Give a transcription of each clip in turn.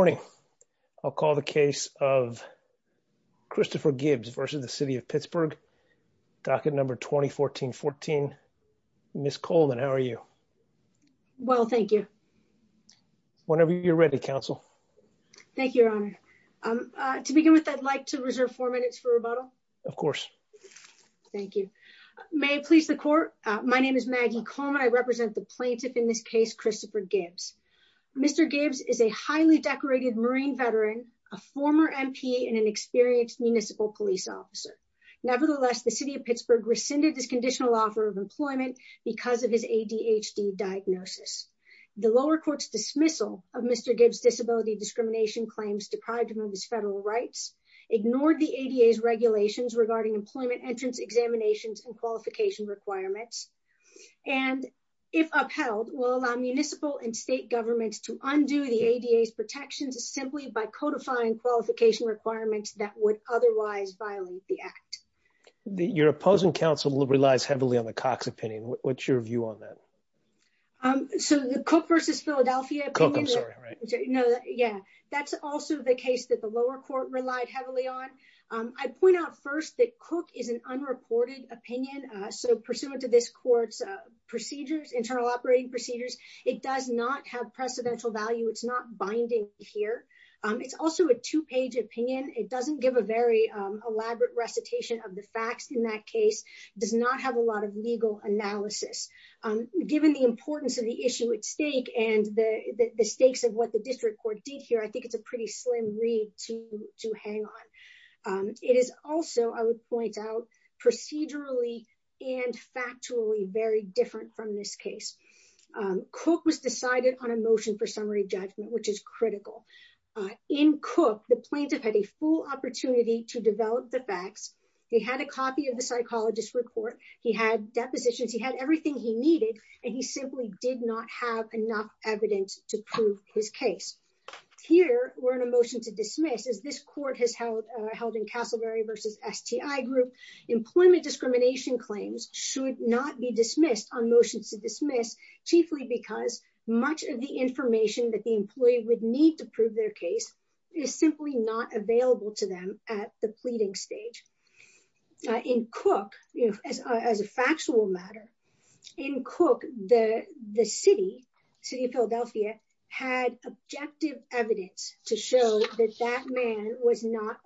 Good morning. I'll call the case of Christopher Gibbs versus the city of Pittsburgh. Docket number 201414. Miss Coleman, how are you? Well, thank you. Whenever you're ready, counsel. Thank you, Your Honor. To begin with, I'd like to reserve four minutes for rebuttal. Of course. Thank you. May it please the court. My name is Maggie Coleman. I represent the veteran, a former MP and an experienced municipal police officer. Nevertheless, the city of Pittsburgh rescinded his conditional offer of employment because of his ADHD diagnosis. The lower court's dismissal of Mr. Gibbs' disability discrimination claims deprived him of his federal rights, ignored the ADA's regulations regarding employment entrance examinations and qualification requirements, and if upheld, will allow municipal and state governments to undo the ADA's protections simply by codifying qualification requirements that would otherwise violate the act. Your opposing counsel relies heavily on the Cox opinion. What's your view on that? So the Cook versus Philadelphia. I'm sorry. No. Yeah. That's also the case that the lower court relied heavily on. I point out first that Cook is an unreported opinion. So pursuant to this court's procedures, internal operating procedures, it does not have precedential value. It's not binding here. It's also a two page opinion. It doesn't give a very elaborate recitation of the facts. In that case, does not have a lot of legal analysis. Given the importance of the issue at stake and the stakes of what the district court did here, I think it's a pretty slim read to hang on. It is also, I would point out, procedurally and factually very different from this case. Cook was decided on a motion for summary judgment, which is critical. In Cook, the plaintiff had a full opportunity to develop the facts. He had a copy of the psychologist report. He had depositions. He had everything he needed and he simply did not have enough evidence to prove his case. Here, we're in a motion to dismiss, as this court has held in Castleberry versus STI group. Employment discrimination claims should not be dismissed on motions to dismiss, chiefly because much of the information that the employee would need to prove their case is simply not available to them at the pleading stage. In Cook, as a factual matter, in Cook, the city of Philadelphia had objective evidence to show that that man was not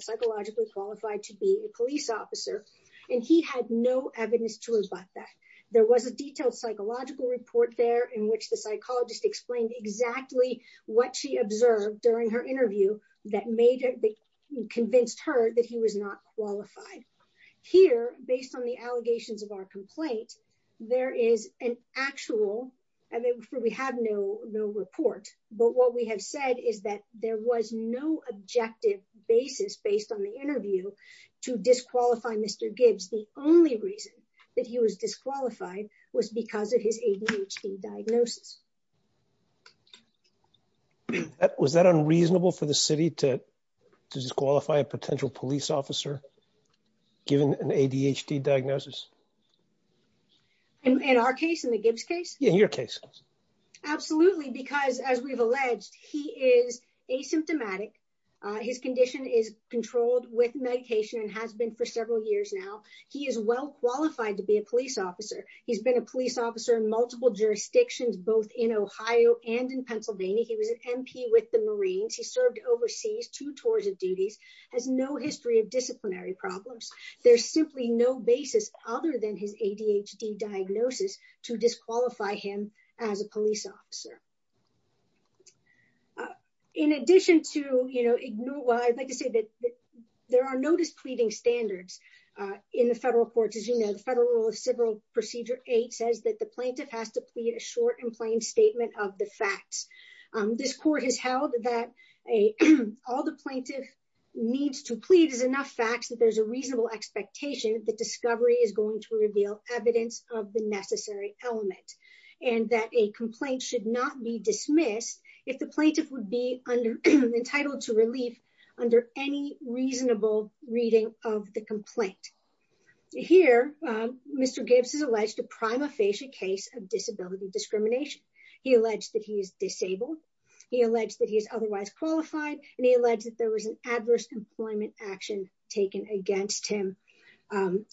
psychologically qualified to be a police officer and he had no evidence to rebut that. There was a detailed psychological report there in which the psychologist explained exactly what she observed during her interview that convinced her that he was not qualified. Here, based on the allegations of our complaint, there is an actual, and we have no report, but what we have said is that there was no objective basis based on the interview to disqualify Mr. Gibbs. The only reason that he was disqualified was because of his ADHD diagnosis. Was that unreasonable for the city to disqualify a potential police officer given an ADHD diagnosis? In our case, in the Gibbs case? In your case. Absolutely, because as we've alleged, he is asymptomatic. His condition is controlled with medication and has been for several years now. He is well qualified to be a police officer. He's been a police officer in multiple jurisdictions, both in Ohio and in Pennsylvania. He was an MP with the Marines. He served overseas, two tours of duties, has no history of disciplinary problems. There's simply no basis other than his ADHD diagnosis to disqualify him as a police officer. In addition to, you know, I'd like to say that there are no displeasing standards in the federal courts. As you know, the Federal Rule of Civil Procedure 8 says that the plaintiff has to plead a short and plain statement of the facts. This court has held that all the plaintiff needs to plead is enough facts that there's a reasonable expectation that discovery is going to reveal evidence of the necessary element, and that a complaint should not be dismissed if the plaintiff would be entitled to relief under any reasonable reading of the complaint. Here, Mr. Gibbs has alleged a prima facie case of disability discrimination. He alleged that he is disabled. He alleged that he is otherwise qualified, and he alleged that there was an adverse employment action taken against him.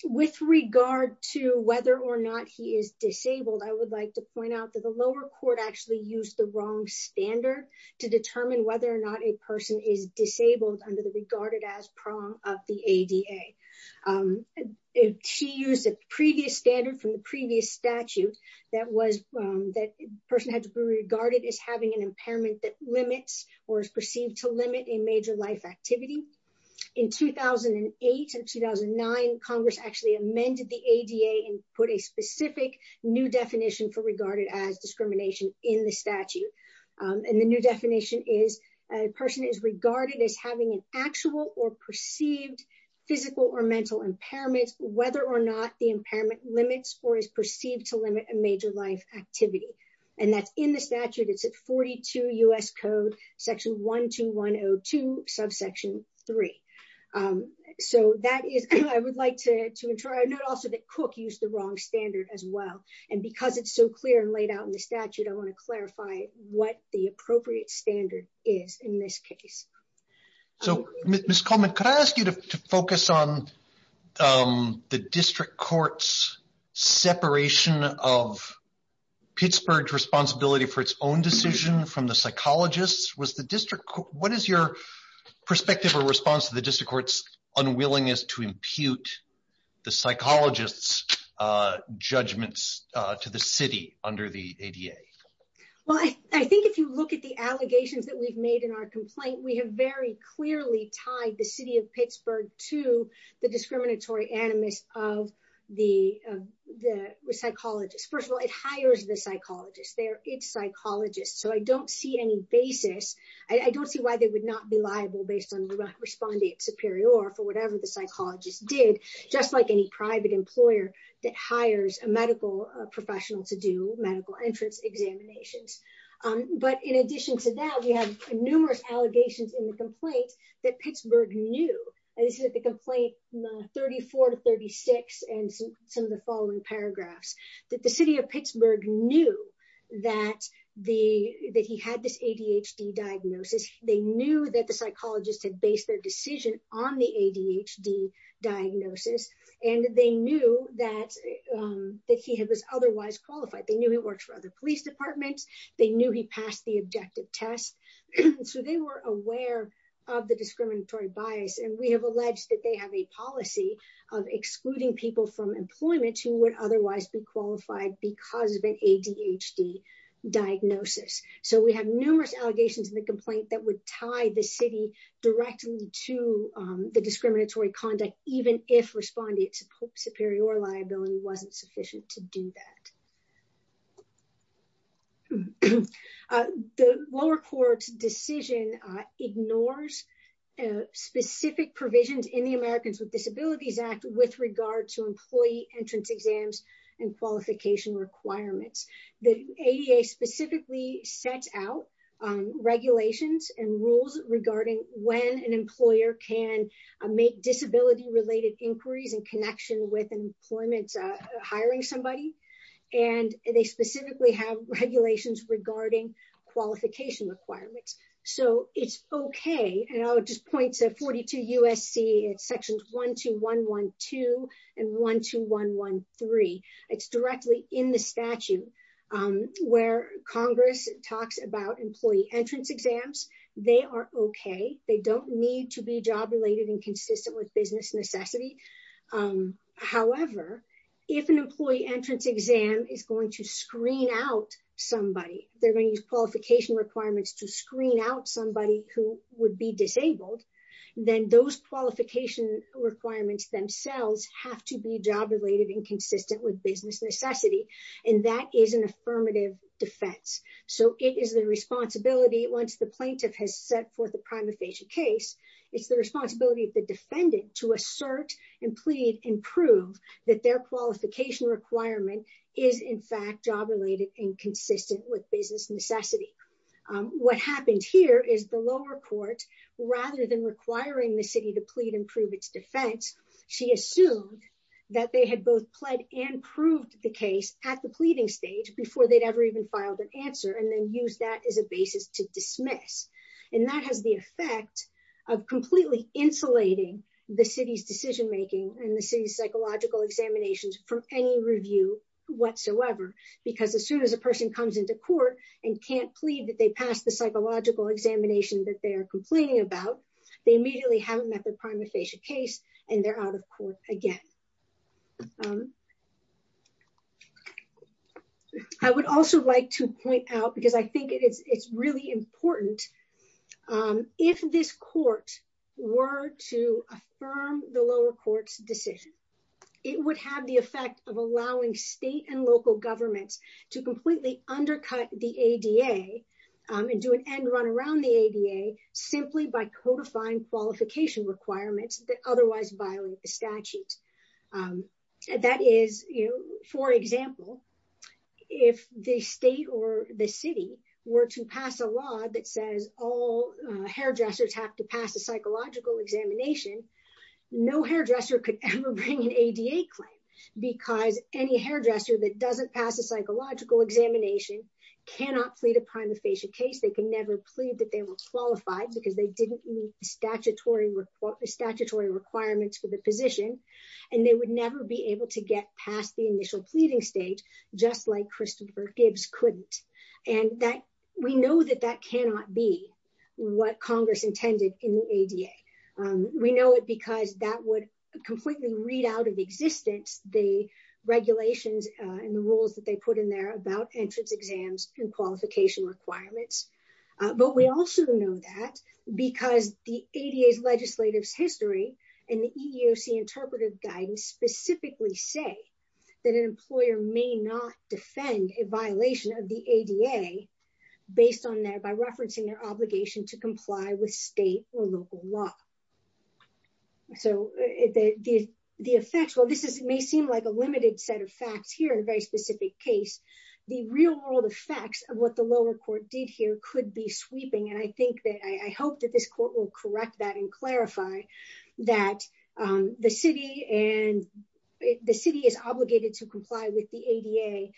With regard to whether or not he is disabled, I would like to point out that the lower court actually used the wrong standard to determine whether or not a person is disabled under the regarded as prong of the ADA. She used a previous standard from the previous statute that was that person had to be regarded as having an impairment that limits or is perceived to limit a major life activity. In 2008 and 2009, Congress actually amended the ADA and put a specific new definition for regarded as discrimination in the statute. And the new definition is a person is regarded as having an actual or perceived physical or mental impairments, whether or not the impairment limits or is perceived to limit a major life activity. And that's in the statute. It's at 42 U.S. Code section 12102 subsection 3. So that is, I would like to note also that Cook used the wrong standard as well. And because it's so clear and laid out in the statute, I want to clarify what the appropriate standard is in this case. So, Miss Coleman, could I ask you to focus on the district courts separation of Pittsburgh responsibility for its own decision from the psychologists was the district. What is your perspective or response to the district courts unwillingness to impute the to the city under the ADA? Well, I think if you look at the allegations that we've made in our complaint, we have very clearly tied the city of Pittsburgh to the discriminatory animus of the psychologist. First of all, it hires the psychologist there. It's psychologists. So I don't see any basis. I don't see why they would not be liable based on the respondent superior for whatever the employer that hires a medical professional to do medical entrance examinations. But in addition to that, we have numerous allegations in the complaint that Pittsburgh knew that the complaint 34 to 36 and some of the following paragraphs that the city of Pittsburgh knew that the that he had this ADHD diagnosis. They knew that the psychologist had based their decision on the ADHD diagnosis, and they knew that that he had was otherwise qualified. They knew he worked for other police departments. They knew he passed the objective test. So they were aware of the discriminatory bias. And we have alleged that they have a policy of excluding people from employment who would otherwise be qualified because of an ADHD diagnosis. So we have numerous allegations in the complaint that would tie the city directly to the superior liability wasn't sufficient to do that. The lower court's decision ignores specific provisions in the Americans with Disabilities Act with regard to employee entrance exams and qualification requirements. The ADA specifically sets out regulations and rules regarding when an employer can make disability-related inquiries in connection with employment, hiring somebody. And they specifically have regulations regarding qualification requirements. So it's okay. And I'll just point to 42 USC. It's sections 12112 and 12113. It's directly in the statute where Congress talks about employee entrance exams. They are okay. They don't need to be job-related and consistent with business necessity. However, if an employee entrance exam is going to screen out somebody, they're going to use qualification requirements to screen out somebody who would be disabled. Then those qualification requirements themselves have to be job-related and consistent with business necessity. And that is an affirmative defense. So it is the responsibility, once the plaintiff has set forth a prima facie case, it's the responsibility of the defendant to assert and plead and prove that their qualification requirement is in fact job-related and consistent with business necessity. What happened here is the lower court, rather than requiring the city to plead and prove its defense, she assumed that they had both pled and proved the case at the pleading stage before they'd ever even filed an answer and then used that as a basis to dismiss. And that has the effect of completely insulating the city's decision-making and the city's psychological examinations from any review whatsoever. Because as soon as a person comes into court and can't plead that they passed the psychological examination that they are complaining about, they immediately haven't met their prima facie case and they're out of court again. I would also like to point out, because I think it's really important, if this court were to affirm the lower court's decision, it would have the effect of allowing state and local governments to completely undercut the ADA and do an end run around the ADA simply by codifying qualification requirements that otherwise violate the statute. And that is, you know, for example, if the state or the city were to pass a law that says all hairdressers have to pass a psychological examination, no hairdresser could ever bring an ADA claim because any hairdresser that doesn't pass a psychological examination cannot plead a prima facie case. They can never plead that they were qualified because they didn't meet statutory requirements for the position and they would never be able to get past the initial pleading stage, just like Christopher Gibbs couldn't. And we know that that cannot be what Congress intended in the ADA. We know it because that would completely read out of existence the regulations and the rules that they put in there about entrance exams and qualification requirements. But we also know that because the ADA's legislative history and the EEOC interpretive guidance specifically say that an employer may not defend a violation of the ADA based on that by referencing their obligation to comply with state or local law. So the effects, while this may seem like a limited set of facts here in a very specific case, the real world effects of what the lower court did here could be sweeping. And I hope that this court will correct that and clarify that the city is obligated to comply with the ADA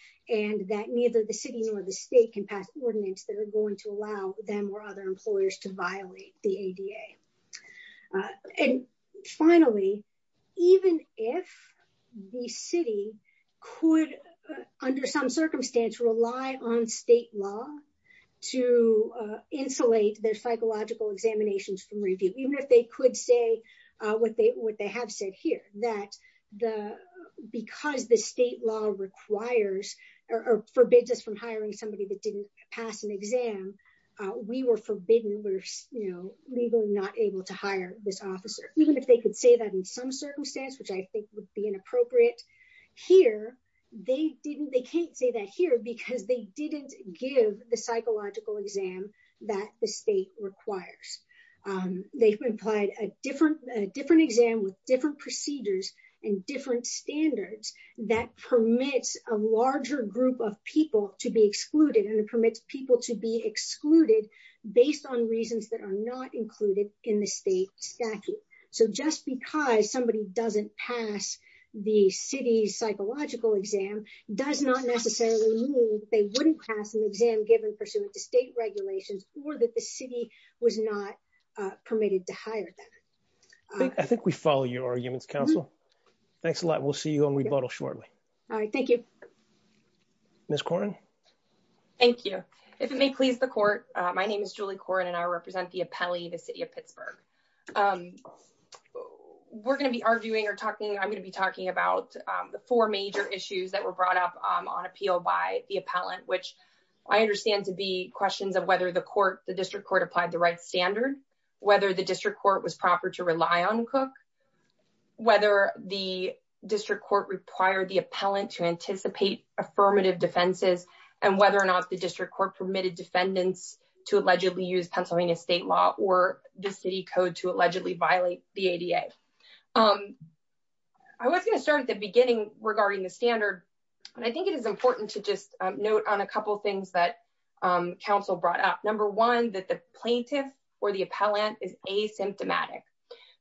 and that neither the city nor the state can pass ordinance that are going to allow them or other employers to violate the ADA. And finally, even if the city could, under some circumstance, rely on state law to insulate their psychological examinations from review, even if they could say what they have said here, that because the state law requires or forbids us from hiring somebody that didn't pass an exam, we were forbidden, we were legally not able to hire this officer. Even if they could say that in some circumstance, which I think would be inappropriate here, they didn't, they can't say that here because they didn't give the psychological exam that the state requires. They've implied a different exam with different procedures and different standards that permits a larger group of people to be excluded and it permits people to be excluded based on reasons that are not included in the state statute. So just because somebody doesn't pass the city's psychological exam does not necessarily mean they wouldn't pass an exam given pursuant to state regulations or that the city was not permitted to hire them. I think we follow your arguments, counsel. Thanks a lot. We'll see you on rebuttal shortly. All right, thank you. Ms. Koren? Thank you. If it may please the court, my name is Julie Koren and I represent the appellee, the city of Pittsburgh. We're going to be arguing or talking, I'm going to be talking about the four major issues that were brought up on appeal by the appellant, which I understand to be questions of whether the court, the district court applied the right standard, whether the district court was proper to rely on Cook, whether the district court required the appellant to anticipate affirmative defenses, and whether or not the district court permitted defendants to allegedly use Pennsylvania state law or the city code to allegedly violate the ADA. I was going to start at the beginning regarding the standard, and I think it is important to just note on a couple of things that counsel brought up. Number one, that the plaintiff or the appellant is asymptomatic.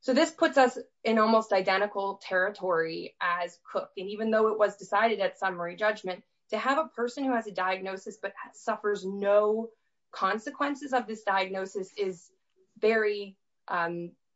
So this puts us in almost identical territory as Cook. And even though it was decided at summary judgment, to have a person who has a diagnosis but suffers no consequences of this diagnosis is very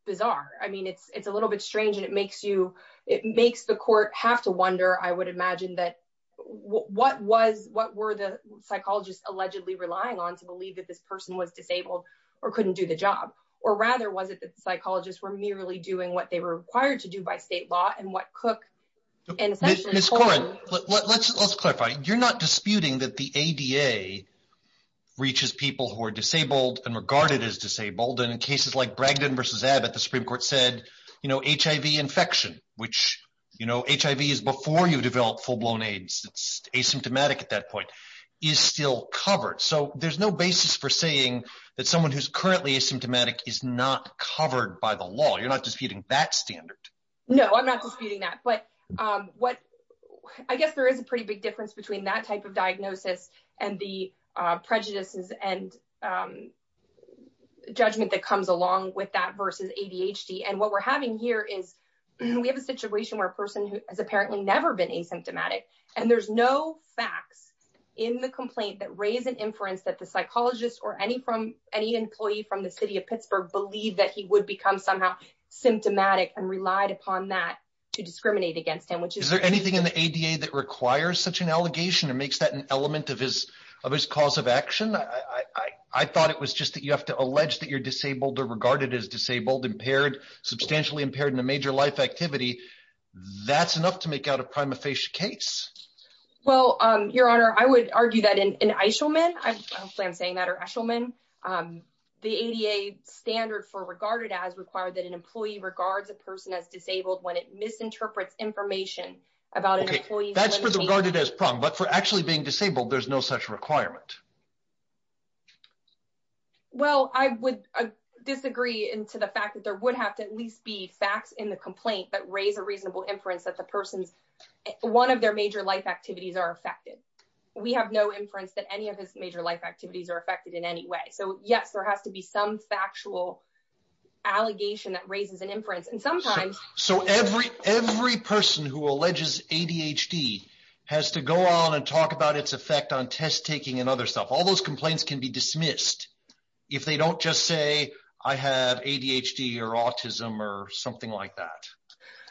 bizarre. I mean, it's a little bit strange and it makes the court have to wonder, I would imagine, that what were the psychologists allegedly relying on to believe that this person was disabled or couldn't do the job? Or rather, was it that the psychologists were merely doing what they were required to do by state law and what Cook? Ms. Curran, let's clarify. You're not disputing that the ADA reaches people who are disabled and regarded as disabled, and in cases like Bragdon v. Abbott, the Supreme Court said HIV infection, which HIV is before you develop full-blown AIDS, it's asymptomatic at that point, is still covered. So there's no basis for saying that someone who's currently asymptomatic is not covered by the law. You're not disputing that standard. No, I'm not disputing that. But I guess there is a pretty big difference between that type of diagnosis and the prejudices and judgment that comes along with that versus ADHD. And what we're having here is we have a situation where a person who has apparently never been asymptomatic, and there's no facts in the complaint that raise an inference that the psychologist or any employee from the city of Pittsburgh believed that he would become somehow symptomatic and relied upon that to discriminate against him. Is there anything in the ADA that requires such an allegation and makes that an element of his cause of action? I thought it was just that you have to allege that you're disabled or regarded as disabled, substantially impaired in a major life activity. That's enough to make out a prima facie case. Well, Your Honor, I would argue that in Eishelman, hopefully I'm saying that, or Eshelman, the ADA standard for regarded as required that an employee regards a person as disabled when it misinterprets information about an employee. That's for the regarded as problem. But for actually being disabled, there's no such requirement. Well, I would disagree into the fact that there would have to at least be facts in the complaint that raise a reasonable inference that the person's, one of their major life activities are affected. We have no inference that any of his major life activities are affected in any way. So yes, there has to be some factual allegation that raises an inference. And sometimes- So every person who alleges ADHD has to go on and talk about its effect on test taking and other stuff. All those complaints can be dismissed if they don't just say, I have ADHD or autism or something like that.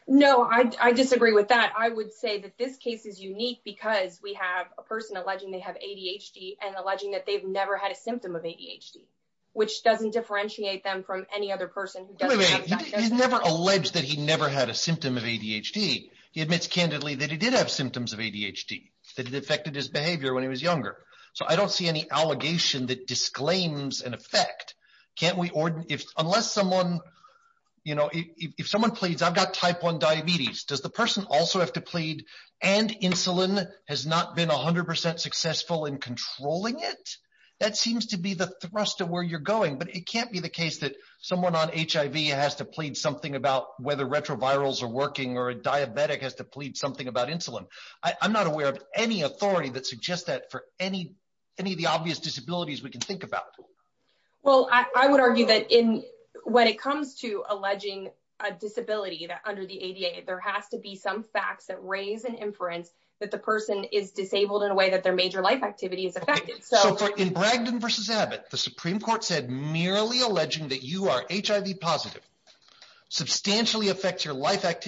No, I disagree with that. I would say that this case is unique because we have a person alleging they have ADHD and alleging that they've never had a symptom of ADHD, which doesn't differentiate them from any other person who doesn't have that- He's never alleged that he never had a symptom of ADHD. He admits candidly that he did have symptoms of ADHD, that it affected his behavior when he was younger. So I don't see any allegation that disclaims an effect. Can't we or if unless someone, you know, if someone pleads, I've got type one diabetes, does the person also have to plead and insulin has not been 100% successful in controlling it? That seems to be the thrust of where you're going, but it can't be the case that someone on HIV has to plead something about whether retrovirals are working or a diabetic has to plead something about insulin. I'm not aware of any authority that suggests that for any of the obvious disabilities we can think about. Well, I would argue that when it comes to alleging a disability that under the ADA, there has to be some facts that raise an inference that the person is disabled in a way that their major life activity is affected. So in Bragdon versus Abbott, the Supreme Court said merely alleging that you are HIV positive substantially affects your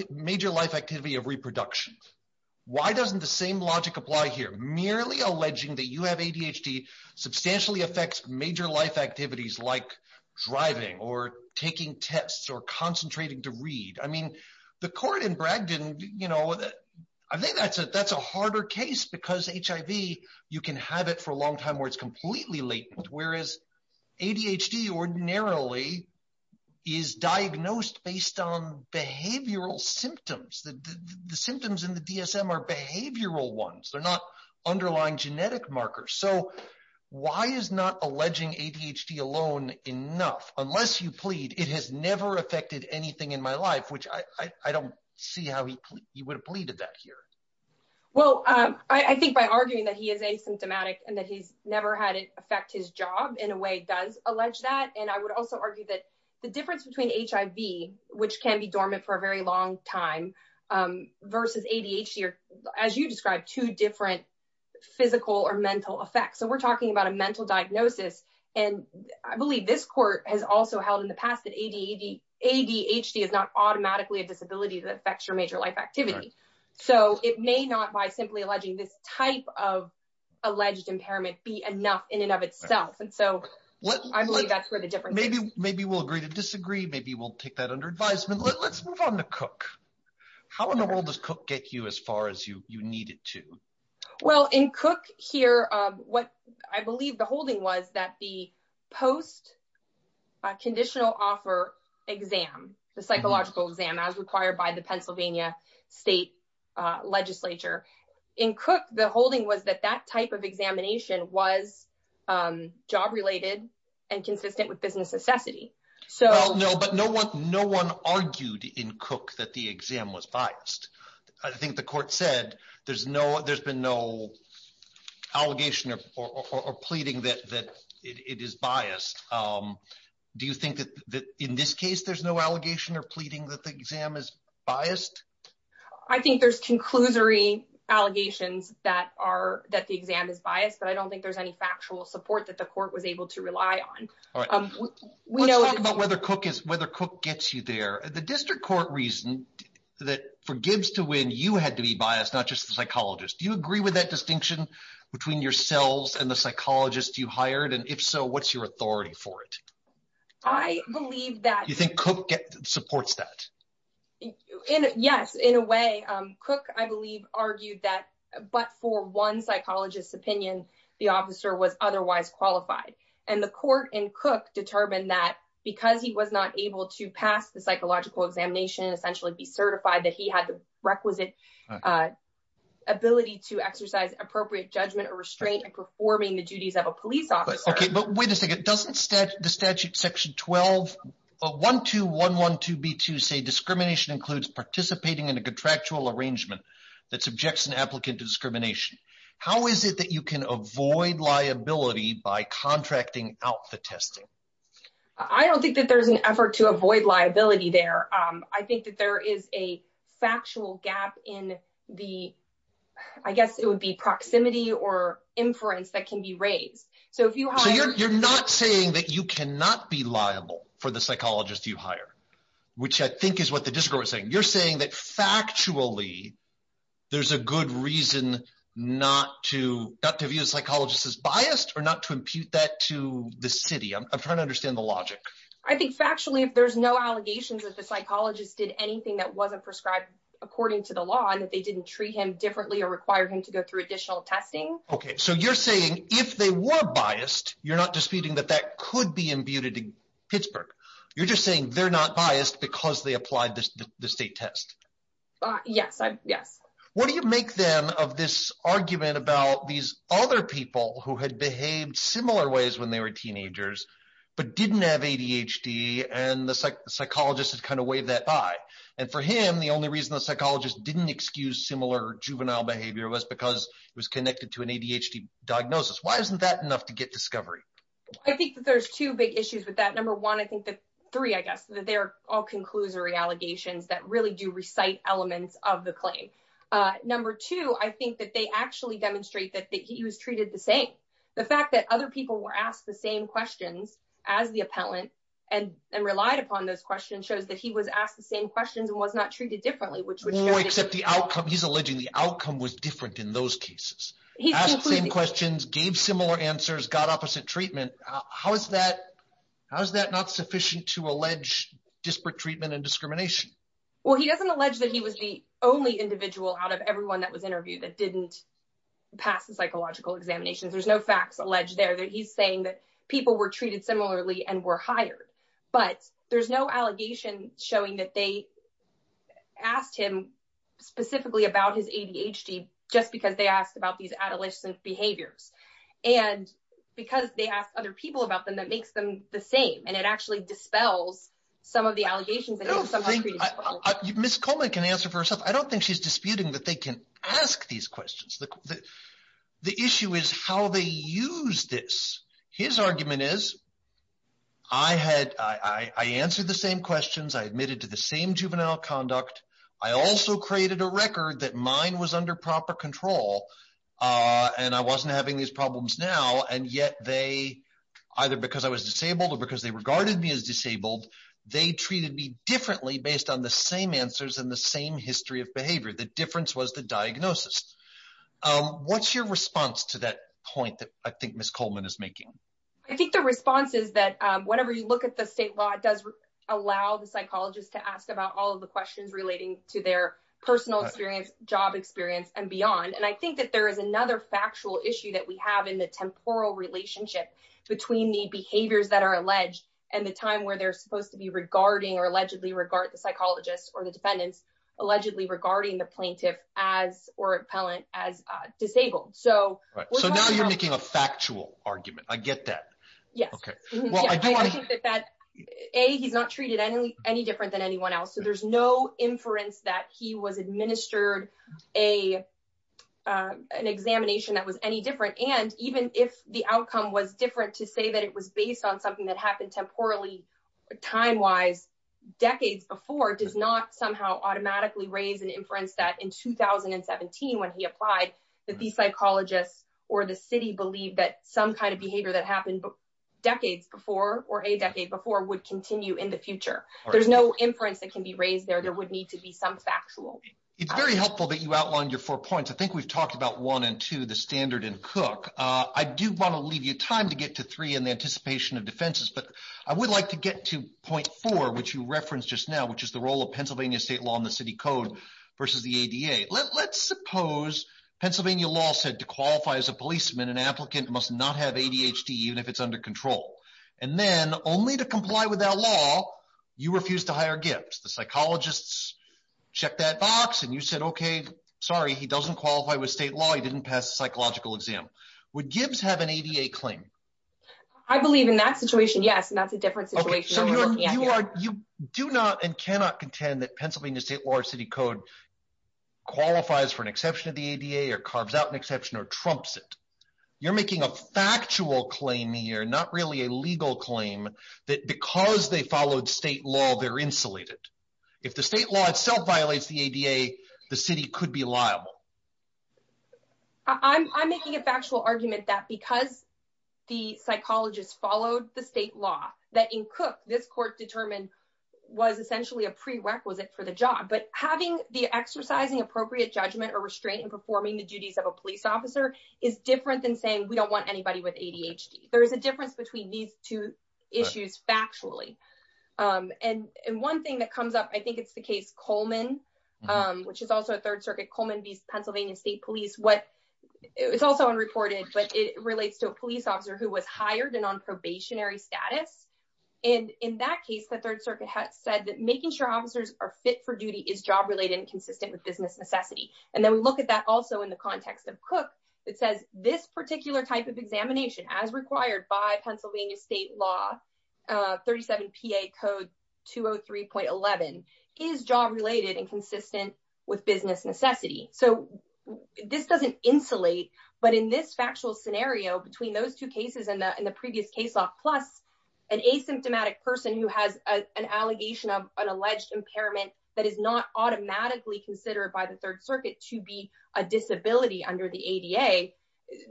major life activity of reproduction. Why doesn't the same logic apply here? Merely alleging that you have ADHD substantially affects major life activities like driving or taking tests or concentrating to read. I mean, the court in Bragdon, you know, I think that's a, that's a harder case because HIV, you can have it for a long time where it's completely latent. Whereas ADHD ordinarily is diagnosed based on behavioral symptoms, the symptoms in the DSM are behavioral ones. They're not underlying genetic markers. So why is not alleging ADHD alone enough? Unless you plead, it has never affected anything in my life, which I don't see how he would have pleaded that here. Well, I think by arguing that he is asymptomatic and that he's never had it affect his job in a way does allege that. And I would also argue that the difference between HIV, which can be dormant for a very long time versus ADHD, or as you described, two different physical or mental effects. So we're talking about a mental diagnosis. And I believe this court has also held in the past that ADHD is not automatically a disability that affects your major life activity. So it may not by simply alleging this type of alleged impairment be enough in and of itself. And so I believe that's where the difference is. Maybe we'll agree to disagree. Maybe we'll take that under advisement. Let's move on to Cook. How in the world does Cook get you as far as you need it to? Well, in Cook here, what I believe the holding was that the post conditional offer exam, the psychological exam as required by the Pennsylvania state legislature in Cook, the holding was that that type of examination was job related and consistent with business necessity. So no, but no one, no one argued in Cook that the exam was biased. I think the court said there's no, there's been no allegation or pleading that it is biased. Um, do you think that, that in this case, there's no allegation or pleading that the exam is biased? I think there's conclusory allegations that are, that the exam is biased, but I don't think there's any factual support that the court was able to rely on. We know about whether Cook is, whether Cook gets you there. The district court reason that for Gibbs to win, you had to be biased, not just the psychologist. Do you agree with that distinction between yourselves and the psychologist you hired? And if so, what's your authority for it? I believe that you think Cook supports that. Yes. In a way, um, Cook, I believe argued that, but for one psychologist's opinion, the officer was otherwise qualified. And the court in Cook determined that because he was not able to pass the psychological examination and essentially be certified that he had the requisite, uh, ability to exercise appropriate judgment or restraint and performing the duties of a police officer. Okay. But wait a second. Doesn't the statute section 12, uh, 12112B2 say discrimination includes participating in a contractual arrangement that subjects an applicant to discrimination. How is it that you can avoid liability by contracting out the testing? I don't think that there's an effort to avoid liability there. Um, I think that there is a factual gap in the, I guess it would be proximity or inference that can be raised. So you're not saying that you cannot be liable for the psychologist you hire, which I think is what the district was saying. You're saying that factually, there's a good reason not to, not to view a psychologist as biased or not to impute that to the city. I'm trying to understand the logic. I think factually, if there's no allegations that the psychologist did anything that wasn't prescribed according to the law and that they didn't treat him differently or require him to go through additional testing. Okay. So you're saying if they were biased, you're not disputing that that could be imputed to Pittsburgh. You're just saying they're not biased because they applied the state test. Yes. Yes. What do you make them of this argument about these other people who had behaved similar ways when they were teenagers, but didn't have ADHD and the psychologist had kind of waved that by. And for him, the only reason the psychologist didn't excuse similar juvenile behavior was because it was connected to an ADHD diagnosis. Why isn't that enough to get discovery? I think that there's two big issues with that. Number one, I think that three, I guess, that they're all conclusory allegations that really do recite elements of the claim. Number two, I think that they actually demonstrate that he was treated the same. The fact that other people were asked the same questions as the appellant and relied upon those questions shows that he was asked the same questions and was not treated differently. Except the outcome, he's alleging the outcome was different in those cases. He asked the same questions, gave similar answers, got opposite treatment. How is that not sufficient to allege disparate treatment and discrimination? Well, he doesn't allege that he was the only individual out of everyone that was interviewed that didn't pass the psychological examinations. There's no facts alleged there that he's saying that people were treated similarly and were hired, but there's no allegation showing that they specifically asked him about his ADHD just because they asked about these adolescent behaviors and because they asked other people about them, that makes them the same. And it actually dispels some of the allegations. Ms. Coleman can answer for herself. I don't think she's disputing that they can ask these questions. The issue is how they use this. His argument is, I answered the same questions. I admitted to the same juvenile conduct. I also created a record that mine was under proper control and I wasn't having these problems now, and yet they, either because I was disabled or because they regarded me as disabled, they treated me differently based on the same answers and the same history of behavior. The difference was the diagnosis. What's your response to that point that I think Ms. Coleman is making? I think the response is that whenever you look at the state law, it does allow the relating to their personal experience, job experience and beyond. And I think that there is another factual issue that we have in the temporal relationship between the behaviors that are alleged and the time where they're supposed to be regarding or allegedly regard the psychologists or the defendants, allegedly regarding the plaintiff as or appellant as disabled. So now you're making a factual argument. I get that. Yes. A, he's not treated any different than anyone else. There's no inference that he was administered an examination that was any different. And even if the outcome was different to say that it was based on something that happened temporally, time-wise, decades before, does not somehow automatically raise an inference that in 2017, when he applied, that these psychologists or the city believed that some kind of behavior that happened decades before or a decade before would continue in the future. There's no inference that can be raised there. There would need to be some factual. It's very helpful that you outlined your four points. I think we've talked about one and two, the standard and cook. I do want to leave you time to get to three and the anticipation of defenses, but I would like to get to point four, which you referenced just now, which is the role of Pennsylvania state law and the city code versus the ADA. Let's suppose Pennsylvania law said to qualify as a policeman, an applicant must not have ADHD, even if it's under control. And then only to comply with that law, you refuse to hire Gibbs. The psychologists check that box. And you said, okay, sorry, he doesn't qualify with state law. He didn't pass a psychological exam. Would Gibbs have an ADA claim? I believe in that situation. Yes. And that's a different situation. So you are, you do not and cannot contend that Pennsylvania state law or city code qualifies for an exception of the ADA or carves out an exception or trumps it. You're making a factual claim here, not really a legal claim that because they followed state law, they're insulated. If the state law itself violates the ADA, the city could be liable. I'm making a factual argument that because the psychologist followed the state law that in cook, this court determined was essentially a prerequisite for the job, but having the exercising appropriate judgment or restraint and performing the duties of a police officer is different than saying we don't want anybody with ADHD. There is a difference between these two issues factually. And one thing that comes up, I think it's the case Coleman, which is also a third circuit Coleman, these Pennsylvania state police, what it's also unreported, but it relates to a police officer who was hired and on probationary status. And in that case, the third circuit had said that making sure officers are fit for duty is job related and consistent with business necessity. And then we look at that also in the context of cook. It says this particular type of examination as required by Pennsylvania state law, 37 PA code 203.11 is job related and consistent with business necessity. So this doesn't insulate. But in this factual scenario, between those two cases in the previous case law, plus an asymptomatic person who has an allegation of an alleged impairment that is not automatically considered by the third circuit to be a disability under the ADA.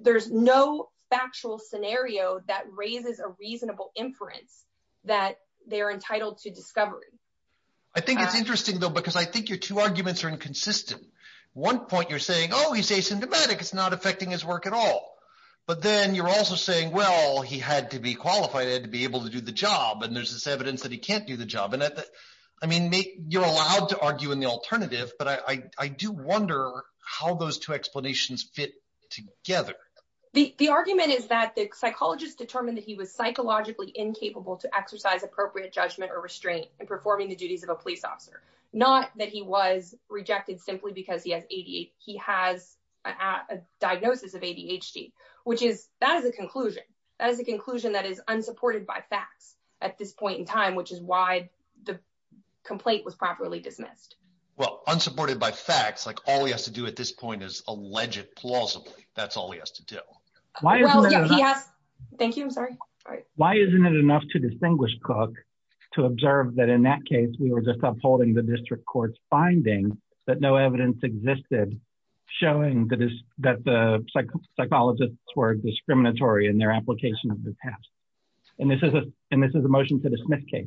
There's no factual scenario that raises a reasonable inference that they're entitled to discovery. I think it's interesting though, because I think your two arguments are inconsistent. One point you're saying, oh, he's asymptomatic. It's not affecting his work at all. But then you're also saying, well, he had to be qualified to be able to do the job. And there's this evidence that he can't do the job. I mean, you're allowed to argue in the alternative, but I do wonder how those two explanations fit together. The argument is that the psychologist determined that he was psychologically incapable to exercise appropriate judgment or restraint in performing the duties of a police officer. Not that he was rejected simply because he has a diagnosis of ADHD, which is that as a conclusion, that is a conclusion that is unsupported by facts at this point in time, which is why the complaint was properly dismissed. Well, unsupported by facts, like all he has to do at this point is allege it plausibly. That's all he has to do. Thank you. I'm sorry. All right. Why isn't it enough to distinguish Cook to observe that in that case, we were just upholding the district court's finding that no evidence existed showing that the psychologists were discriminatory in their application of the test. And this is a motion to dismiss case.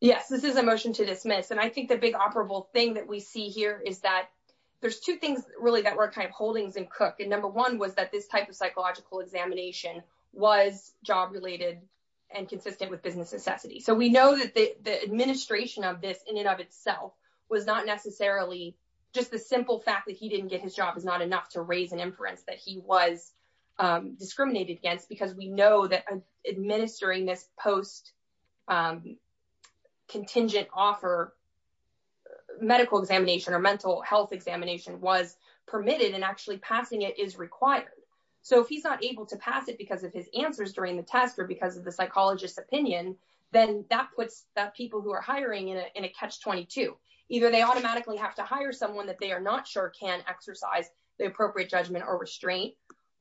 Yes, this is a motion to dismiss. And I think the big operable thing that we see here is that there's two things really that were kind of holdings in Cook. And number one was that this type of psychological examination was job related and consistent with business necessity. So we know that the administration of this in and of itself was not necessarily just the simple fact that he didn't get his job is not enough to raise an inference that he was discriminated against. Because we know that administering this post contingent offer medical examination or mental health examination was permitted and actually passing it is required. So if he's not able to pass it because of his answers during the test or because of the psychologist opinion, then that puts that people who are hiring in a catch 22, either they automatically have to hire someone that they are not sure can exercise the appropriate judgment or restraint.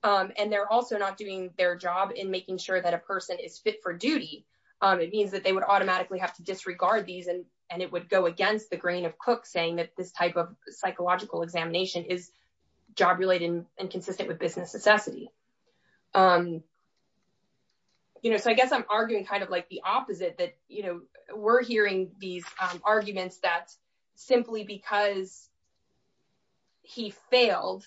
And they're also not doing their job in making sure that a person is fit for duty. It means that they would automatically have to disregard these and and it would go against the grain of Cook saying that this type of psychological examination is job related and consistent with business necessity. You know, so I guess I'm arguing kind of like the opposite that, you know, we're hearing these arguments that simply because he failed.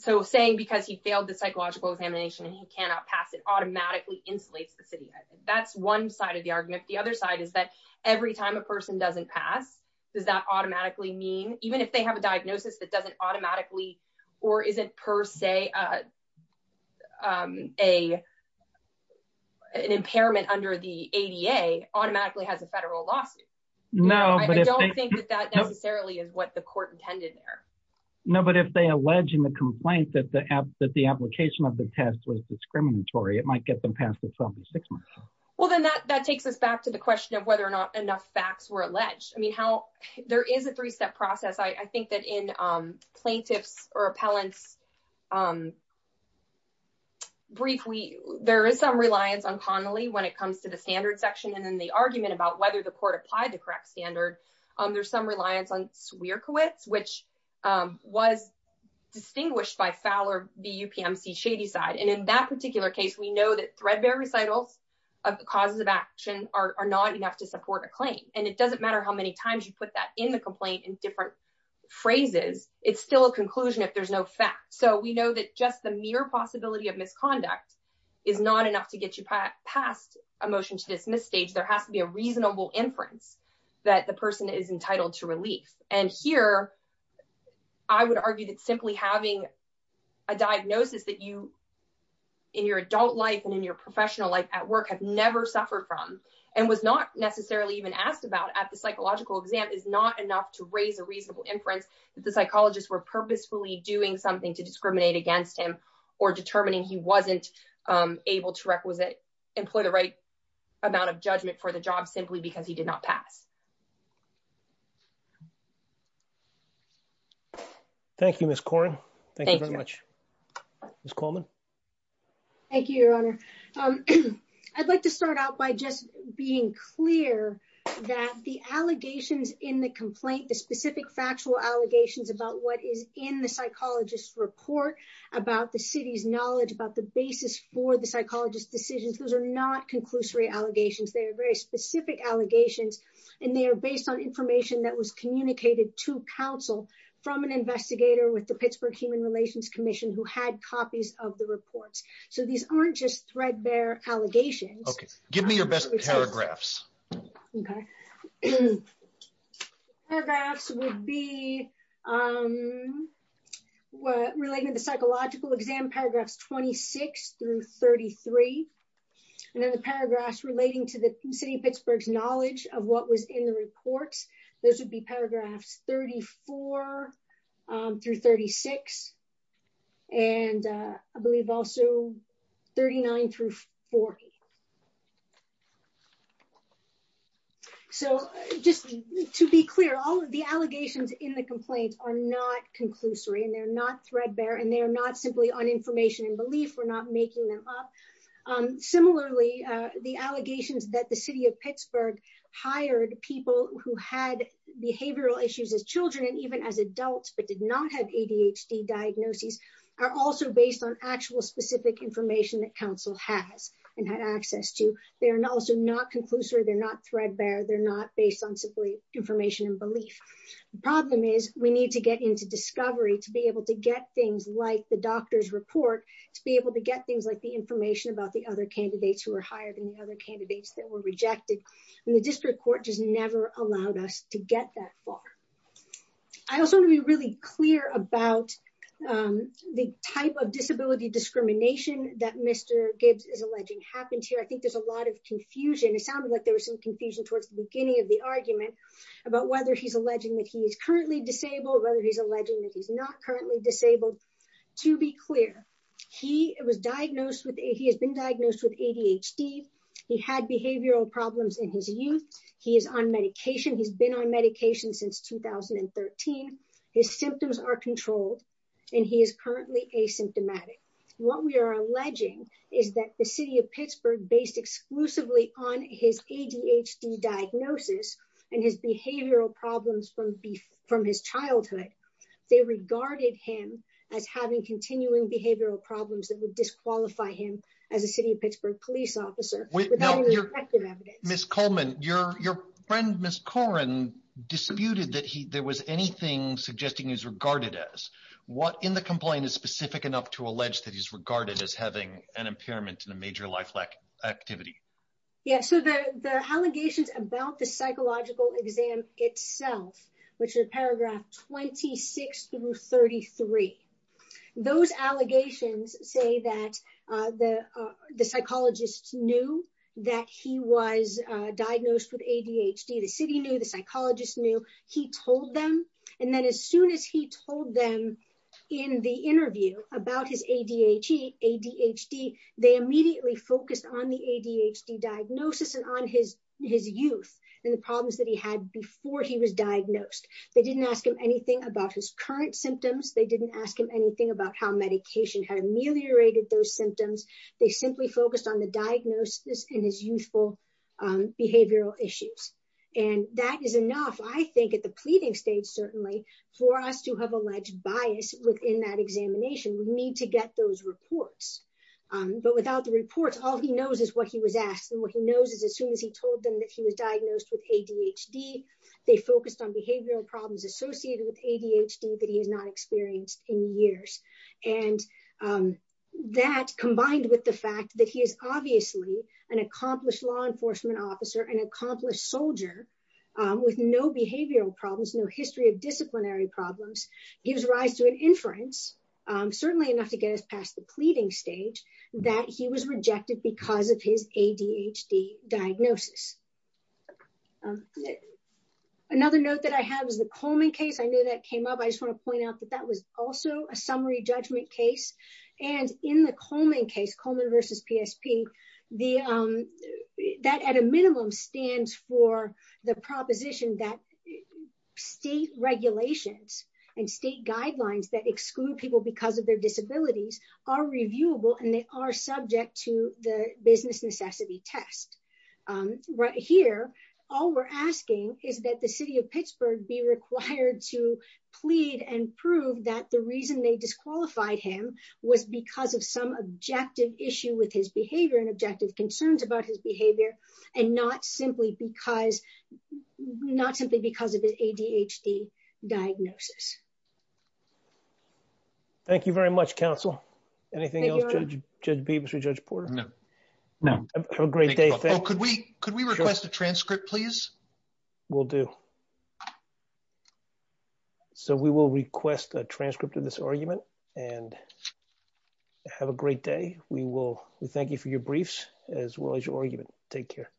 So saying because he failed the psychological examination and he cannot pass it automatically insulates the city. That's one side of the argument. The other side is that every time a person doesn't pass, does that automatically mean even if they have a diagnosis that doesn't automatically or isn't per se a an impairment under the ADA automatically has a federal lawsuit. No, I don't think that that necessarily is what the court intended there. No, but if they allege in the complaint that the app that the application of the test was discriminatory, it might get them past itself in six months. Well, then that that takes us back to the question of whether or not enough facts were alleged. I mean, how there is a three step process. I think that in plaintiffs or appellants. Briefly, there is some reliance on Connolly when it comes to the standard section and then the argument about whether the court applied the correct standard. There's some reliance on Swearkowitz, which was distinguished by Fowler, the UPMC Shadyside. And in that particular case, we know that threadbare recitals of the causes of action are not enough to support a claim. And it doesn't matter how many times you put that in the complaint in different phrases. It's still a conclusion if there's no fact. So we know that just the mere possibility of misconduct is not enough to get you past a motion to dismiss stage. There has to be a reasonable inference that the person is entitled to relief. And here, I would argue that simply having a diagnosis that you in your adult life and in your professional life at work have never suffered from and was not necessarily even asked about at the psychological exam is not enough to raise a reasonable inference that psychologists were purposefully doing something to discriminate against him or determining he wasn't able to employ the right amount of judgment for the job simply because he did not pass. Thank you, Ms. Coren. Thank you very much. Ms. Coleman. Thank you, Your Honor. I'd like to start out by just being clear that the allegations in the complaint, the in the psychologist's report about the city's knowledge about the basis for the psychologist's decisions, those are not conclusory allegations. They are very specific allegations, and they are based on information that was communicated to counsel from an investigator with the Pittsburgh Human Relations Commission who had copies of the reports. So these aren't just threadbare allegations. Okay. Give me your best paragraphs. Okay. The paragraphs would be relating to the psychological exam, paragraphs 26 through 33, and then the paragraphs relating to the city of Pittsburgh's knowledge of what was in the reports. Those would be paragraphs 34 through 36, and I believe also 39 through 40. Just to be clear, all of the allegations in the complaint are not conclusory, and they're not threadbare, and they're not simply on information and belief. We're not making them up. Similarly, the allegations that the city of Pittsburgh hired people who had behavioral issues as children and even as adults but did not have ADHD diagnoses are also based on actual specific information that counsel has and had access to. They are also not conclusory. They're not threadbare. They're not based on simply information and belief. The problem is we need to get into discovery to be able to get things like the doctor's report, to be able to get things like the information about the other candidates who were hired and the other candidates that were rejected, and the district court just never allowed us to get that far. I also want to be really clear about the type of disability discrimination that Mr. Gibbs is alleging happened here. I think there's a lot of confusion. It sounded like there was some confusion towards the beginning of the argument about whether he's alleging that he is currently disabled, whether he's alleging that he's not currently disabled. To be clear, he has been diagnosed with ADHD. He had behavioral problems in his youth. He is on medication. He's been on medication since 2013. His symptoms are controlled, and he is currently asymptomatic. What we are alleging is that the city of Pittsburgh, based exclusively on his ADHD diagnosis and his behavioral problems from his childhood, they regarded him as having continuing behavioral problems that would disqualify him as a city of Pittsburgh police officer. Ms. Coleman, your friend, Ms. Coren, disputed that there was anything suggesting he was regarded as. What in the complaint is specific enough to allege that he's regarded as having an impairment in a major life activity? Yeah, so the allegations about the psychological exam itself, which is paragraph 26 through 33, those allegations say that the psychologist knew that he was diagnosed with ADHD. The city knew. The psychologist knew. He told them. As soon as he told them in the interview about his ADHD, they immediately focused on the ADHD diagnosis and on his youth and the problems that he had before he was diagnosed. They didn't ask him anything about his current symptoms. They didn't ask him anything about how medication had ameliorated those symptoms. They simply focused on the diagnosis and his youthful behavioral issues. That is enough, I think, at the pleading stage, certainly, for us to have alleged bias within that examination. We need to get those reports, but without the reports, all he knows is what he was asked and what he knows is as soon as he told them that he was diagnosed with ADHD, they focused on behavioral problems associated with ADHD that he has not experienced in years. That, combined with the fact that he is obviously an accomplished law enforcement officer, an accomplished soldier, with no behavioral problems, no history of disciplinary problems, gives rise to an inference, certainly enough to get us past the pleading stage, that he was rejected because of his ADHD diagnosis. Another note that I have is the Coleman case. I know that came up. I just want to point out that that was also a summary judgment case. In the Coleman case, Coleman versus PSP, that, at a minimum, stands for the proposition that state regulations and state guidelines that exclude people because of their disabilities are reviewable and they are subject to the business necessity test. Right here, all we're asking is that the city of Pittsburgh be required to plead and prove that the reason they disqualified him was because of some objective issue with his behavior and objective concerns about his behavior and not simply because of his ADHD diagnosis. Thank you very much, counsel. Anything else, Judge Beavis or Judge Porter? No. Have a great day. Could we request a transcript, please? Will do. So we will request a transcript of this argument and have a great day. We thank you for your briefs as well as your argument. Take care.